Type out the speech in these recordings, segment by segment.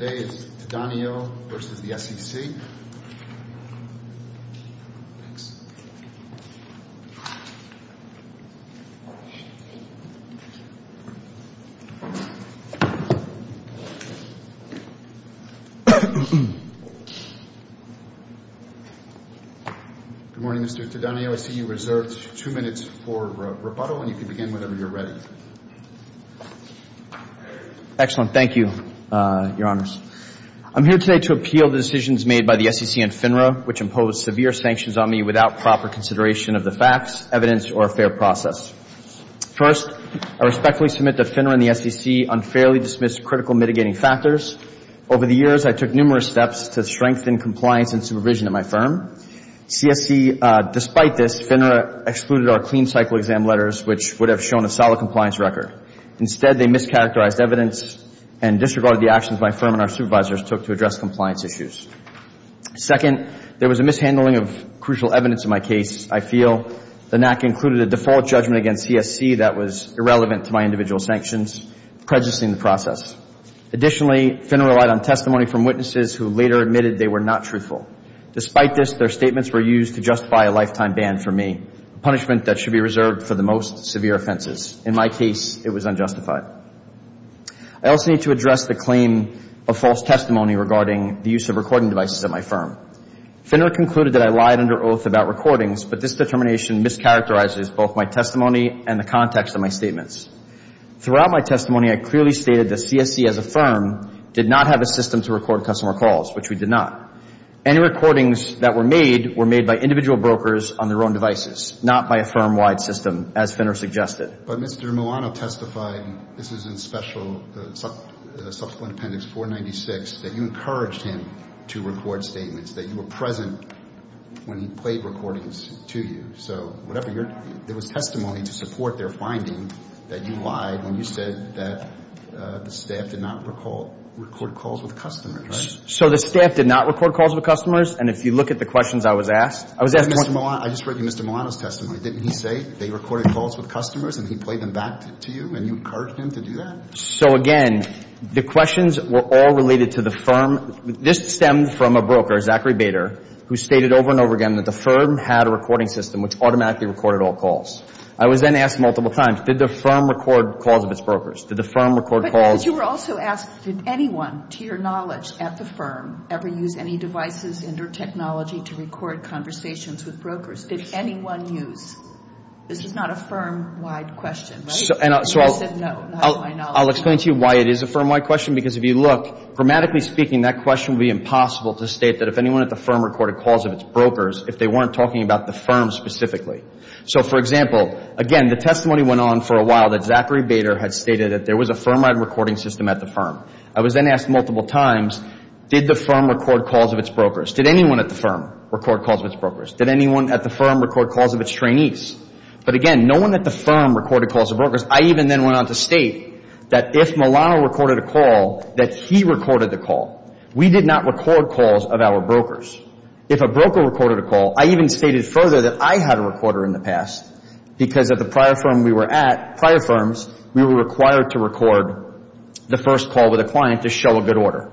Good morning, Mr. Taddonio. I see you reserved two minutes for rebuttal, and you can begin whenever you're ready. Mr. Taddonio Excellent. Thank you, Your Honors. I'm here today to appeal the decisions made by the SEC and FINRA, which impose severe sanctions on me without proper consideration of the facts, evidence, or a fair process. First, I respectfully submit that FINRA and the SEC unfairly dismiss critical mitigating factors. Over the years, I took numerous steps to strengthen compliance and supervision at my firm. CSC, despite this, FINRA excluded our clean cycle exam letters, which would have shown a solid compliance record. Instead, they mischaracterized evidence and disregarded the actions my firm and our supervisors took to address compliance issues. Second, there was a mishandling of crucial evidence in my case. I feel the NAC included a default judgment against CSC that was irrelevant to my individual sanctions, prejudicing the process. Additionally, FINRA relied on testimony from witnesses who later admitted they were not truthful. Despite this, their statements were used to justify a lifetime ban for me, a punishment that should be reserved for the most severe offenses. In my case, it was unjustified. I also need to address the claim of false testimony regarding the use of recording devices at my firm. FINRA concluded that I lied under oath about recordings, but this determination mischaracterizes both my testimony and the context of my statements. Throughout my testimony, I clearly stated that CSC, as a firm, did not have a system to record customer calls, which we did not. Any recordings that were made were made by individual brokers on their own devices, not by a firm-wide system, as FINRA suggested. But Mr. Milano testified, this is in special, the subsequent appendix 496, that you encouraged him to record statements, that you were present when he played recordings to you. So whatever your, there was testimony to support their finding that you lied when you said that the staff did not record calls with customers, right? So the staff did not record calls with customers, and if you look at the questions I was asked, I just read you Mr. Milano's testimony. Didn't he say they recorded calls with customers and he played them back to you and you encouraged him to do that? So again, the questions were all related to the firm. This stemmed from a broker, Zachary Bader, who stated over and over again that the firm had a recording system which automatically recorded all calls. I was then asked multiple times, did the firm record calls of its brokers? Did the firm record calls? But you were also asked, did anyone, to your knowledge, at the firm ever use any devices and or technology to record conversations with brokers? Did anyone use? This is not a firm-wide question, right? So, and so I'll, I'll, I'll explain to you why it is a firm-wide question, because if you look, grammatically speaking, that question would be impossible to state that if anyone at the firm recorded calls of its brokers if they weren't talking about the firm specifically. So for example, again, the testimony went on for a while that Zachary Bader had stated that there was a firm-wide recording system at the firm. I was then asked multiple times, did the firm record calls of its brokers? Did anyone at the firm record calls of its brokers? Did anyone at the firm record calls of its trainees? But again, no one at the firm recorded calls of brokers. I even then went on to state that if Milano recorded a call, that he recorded the call. We did not record calls of our brokers. If a broker recorded a call, I even stated further that I had a recorder in the past, because at the prior firm we were at, prior firms, we were required to record the first call with a client to show a good order.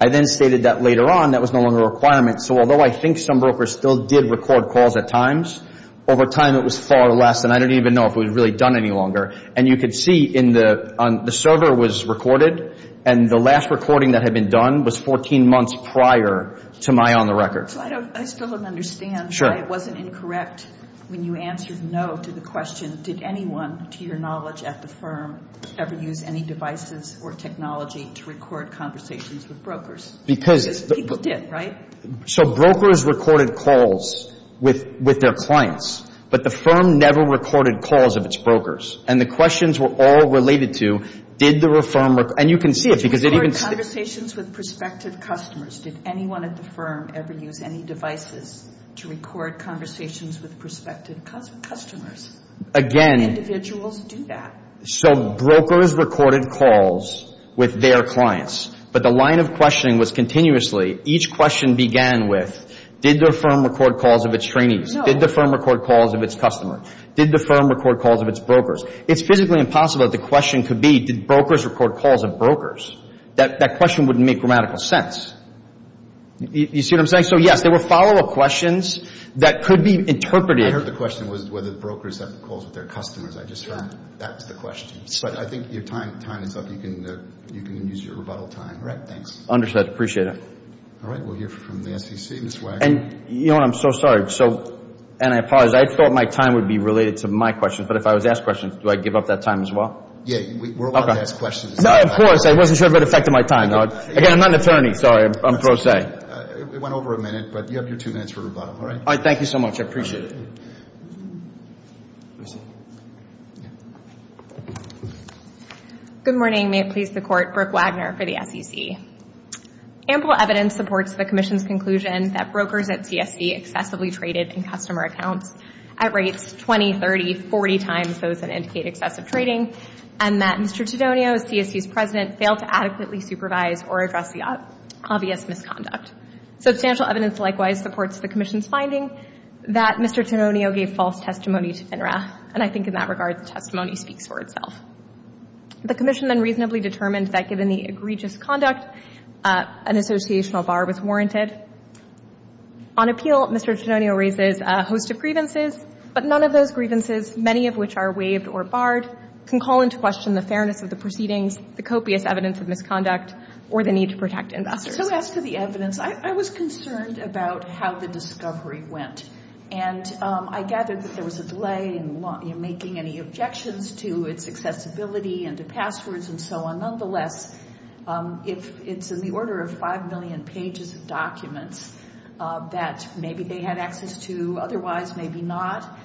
I then stated that later on, that was no longer a requirement. So although I think some brokers still did record calls at times, over time it was far less, and I didn't even know if it was really done any longer. And you could see in the, the server was recorded, and the last recording that had been done was 14 months prior to my on-the-record. I still don't understand why it wasn't incorrect when you answered no to the question, did anyone, to your knowledge at the firm, ever use any devices or technology to record conversations with brokers? Because... Because people did, right? So brokers recorded calls with, with their clients, but the firm never recorded calls of its brokers. And the questions were all related to, did the firm, and you can see it because it even... Did you record conversations with prospective customers? Did anyone at the firm ever use any devices to record conversations with prospective customers? Again... Individuals do that. So brokers recorded calls with their clients, but the line of questioning was continuously, each question began with, did the firm record calls of its trainees? No. Did the firm record calls of its customers? Did the firm record calls of its brokers? It's physically impossible that the question could be, did brokers record calls of brokers? That, that question wouldn't make grammatical sense. You see what I'm saying? So yes, there were follow-up questions that could be interpreted. I heard the question was whether brokers have calls with their customers. I just heard that's the question. But I think your time, time is up. You can, you can use your rebuttal time. All right, thanks. Understood, appreciate it. All right, we'll hear from the SEC, Ms. Wagner. And you know what, I'm so sorry. So, and I apologize. I thought my time would be related to my questions, but if I was asked questions, do I give up that time as well? Yeah, we're allowed to ask questions. No, of course, I wasn't sure if it affected my time. Again, I'm not an expert, so I'll give you a minute, but you have your two minutes for rebuttal, all right? All right, thank you so much. I appreciate it. Good morning. May it please the Court, Brooke Wagner for the SEC. Ample evidence supports the Commission's conclusion that brokers at CSC excessively traded in customer accounts at rates 20, 30, 40 times those that indicate excessive trading, and that Mr. Tedonio, CSC's president, failed to adequately supervise or address the obvious misconduct. Substantial evidence, likewise, supports the Commission's finding that Mr. Tedonio gave false testimony to FINRA, and I think in that regard the testimony speaks for itself. The Commission then reasonably determined that given the egregious conduct, an associational bar was warranted. On appeal, Mr. Tedonio raises a host of grievances, but none of those grievances, many of which are waived or barred, can call into question the fairness of the proceedings, the copious evidence of misconduct, or the need to protect investors. So as to the evidence, I was concerned about how the discovery went, and I gathered that there was a delay in making any objections to its accessibility and to passwords and so on. Nonetheless, it's in the order of 5 million pages of documents that maybe they had access to, otherwise maybe not,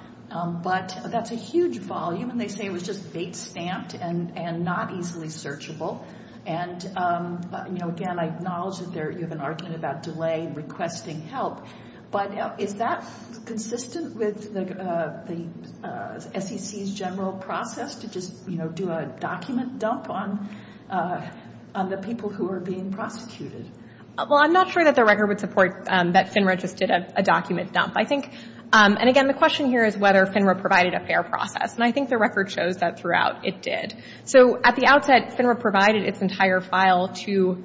but that's a huge volume, and they say it was just bait and stamped and not easily searchable. And, you know, again, I acknowledge that you have been arguing about delay in requesting help, but is that consistent with the SEC's general process to just, you know, do a document dump on the people who are being prosecuted? Well, I'm not sure that the record would support that FINRA just did a document dump. I think — and again, the question here is whether FINRA provided a fair process, and I think the record shows that throughout it did. So at the outset, FINRA provided its entire file to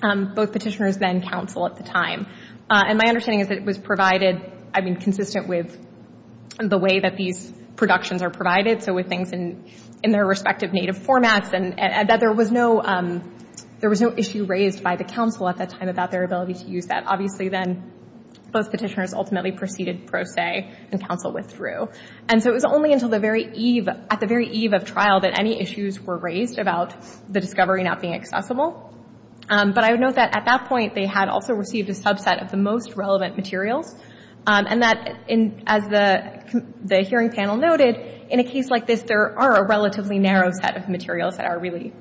both petitioners and counsel at the time, and my understanding is that it was provided, I mean, consistent with the way that these productions are provided, so with things in their respective native formats, and that there was no issue raised by the counsel at that time about their ability to use that. Obviously, then, both petitioners ultimately proceeded pro se, and counsel withdrew. And so it was only until the very eve — at the very eve of trial that any issues were raised about the discovery not being accessible. But I would note that at that point, they had also received a subset of the most relevant materials, and that as the hearing panel noted, in a case like this, there are a relatively narrow set of materials that are really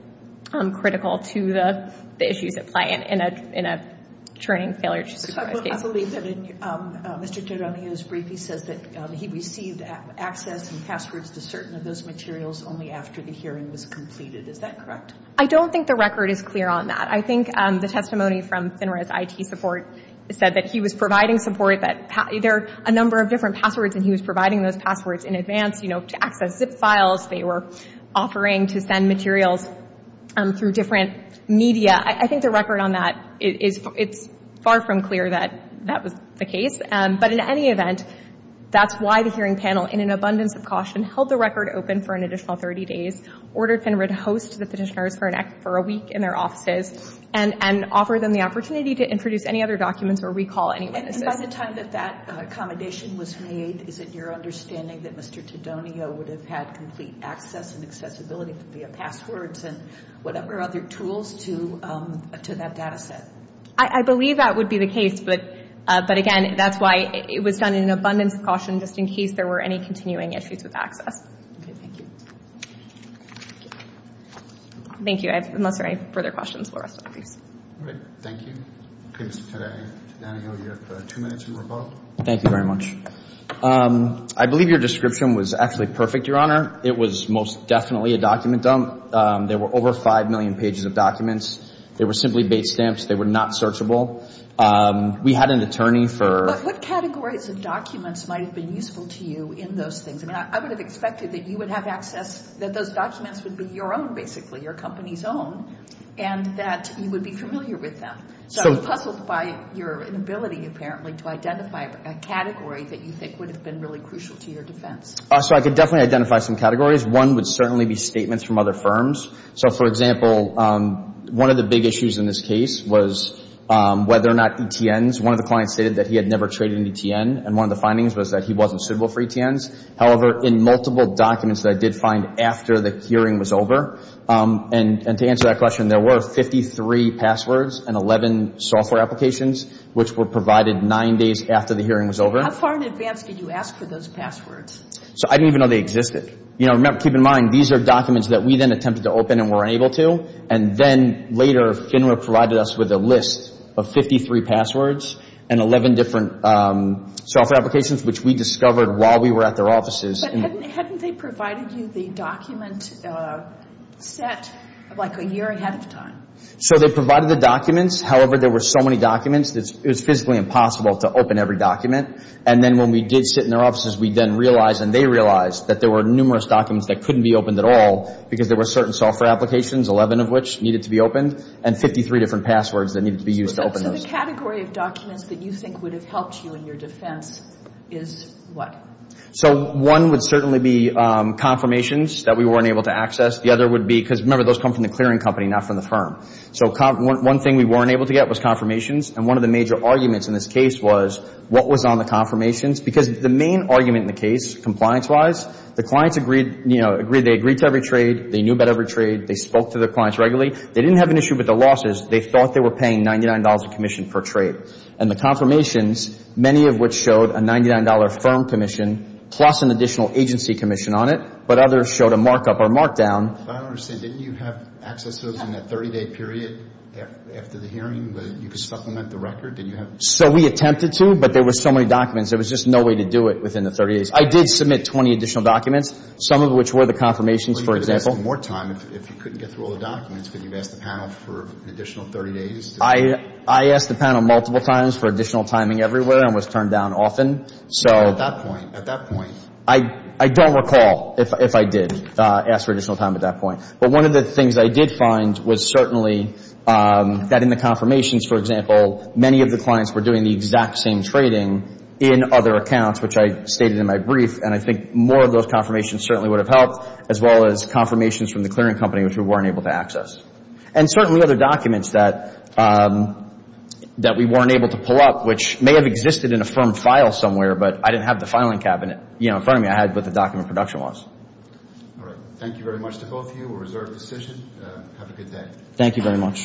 critical to the issues at play in a churning failure-to-surprise case. I believe that in Mr. Teranio's brief, he says that he received access and passwords to certain of those materials only after the hearing was completed. Is that correct? I don't think the record is clear on that. I think the testimony from FINRA's IT support said that he was providing support, that there are a number of different passwords, and he was providing those passwords in advance, you know, to access zip files. They were offering to send materials through different media. I think the record on that, it's far from clear that that was the case. But in any event, that's why the hearing panel, in an abundance of caution, held the record open for an additional 30 days, ordered FINRA to host the petitioners for a week in their offices, and offer them the opportunity to introduce any other documents or recall any witnesses. And by the time that that accommodation was made, is it your understanding that Mr. Teranio would have had complete access and accessibility via passwords and whatever other tools to that data set? I believe that would be the case, but again, that's why it was done in an abundance of caution, just in case there were any continuing issues with access. Okay, thank you. Thank you. Unless there are any further questions, we'll rest our case. All right, thank you. Mr. Teranio, you have two minutes or more to go. Thank you very much. I believe your description was actually perfect, Your Honor. It was most definitely a document dump. There were over 5 million pages of documents. They were simply bait stamps. They were not searchable. We had an attorney for... But what categories of documents might have been useful to you in those things? I mean, I would have expected that you would have access, that those documents would be your own, basically, your company's own, and that you would be familiar with them. So I'm puzzled by your inability, apparently, to identify a category that you think would have been really crucial to your defense. So I could definitely identify some categories. One would certainly be statements from other firms. So, for example, one of the big issues in this case was whether or not ETNs... One of the clients stated that he had never traded an ETN, and one of the findings was that he wasn't suitable for ETNs. However, in multiple documents that I did find after the hearing was over, and to answer that question, there were 53 passwords and 11 software applications, which were provided nine days after the hearing was over. How far in advance did you ask for those passwords? So I didn't even know they existed. You know, keep in mind, these are documents that we then attempted to open and were unable to, and then later, FINRA provided us with a list of 53 passwords and 11 different software applications, which we discovered while we were at their offices. But hadn't they provided you the document set like a year ahead of time? So they provided the documents. However, there were so many documents, it was physically impossible to open every document. And then when we did sit in their offices, we then realized, and they realized, that there were numerous documents that couldn't be opened at all because there were certain software applications, 11 of which needed to be opened, and 53 different passwords that needed to be used to open those. So the category of documents that you think would have helped you in your defense is what? So one would certainly be confirmations that we weren't able to access. The other would be, because remember, those come from the clearing company, not from the firm. So one thing we weren't able to get was confirmations. And one of the major arguments in this case was what was on the confirmations. Because the main argument in the case, compliance-wise, the clients agreed, you know, they agreed to every trade. They knew about every trade. They spoke to their clients regularly. They didn't have an issue with their losses. They thought they were paying $99 a commission per trade. And the confirmations, many of which showed a $99 firm commission plus an additional agency commission on it, but others showed a markup or markdown. I don't understand. Didn't you have access to those in that 30-day period after the hearing? You could supplement the record? Did you have... So we attempted to, but there were so many documents, there was just no way to do it within the 30 days. I did submit 20 additional documents, some of which were the confirmations, for example. But you could have asked for more time if you couldn't get through all the documents, but you've asked the panel for an additional 30 days to... I asked the panel multiple times for additional timing everywhere and was turned down often. So... At that point. I don't recall if I did ask for additional time at that point. But one of the things I did find was certainly that in the confirmations, for example, many of the clients were doing the exact same trading in other accounts, which I stated in my brief. And I think more of those confirmations certainly would have helped, as well as confirmations from the company, which we weren't able to access. And certainly other documents that we weren't able to pull up, which may have existed in a firm file somewhere, but I didn't have the filing cabinet in front of me. I had what the document of production was. All right. Thank you very much to both of you. We'll reserve the session. Have a good day. Thank you very much.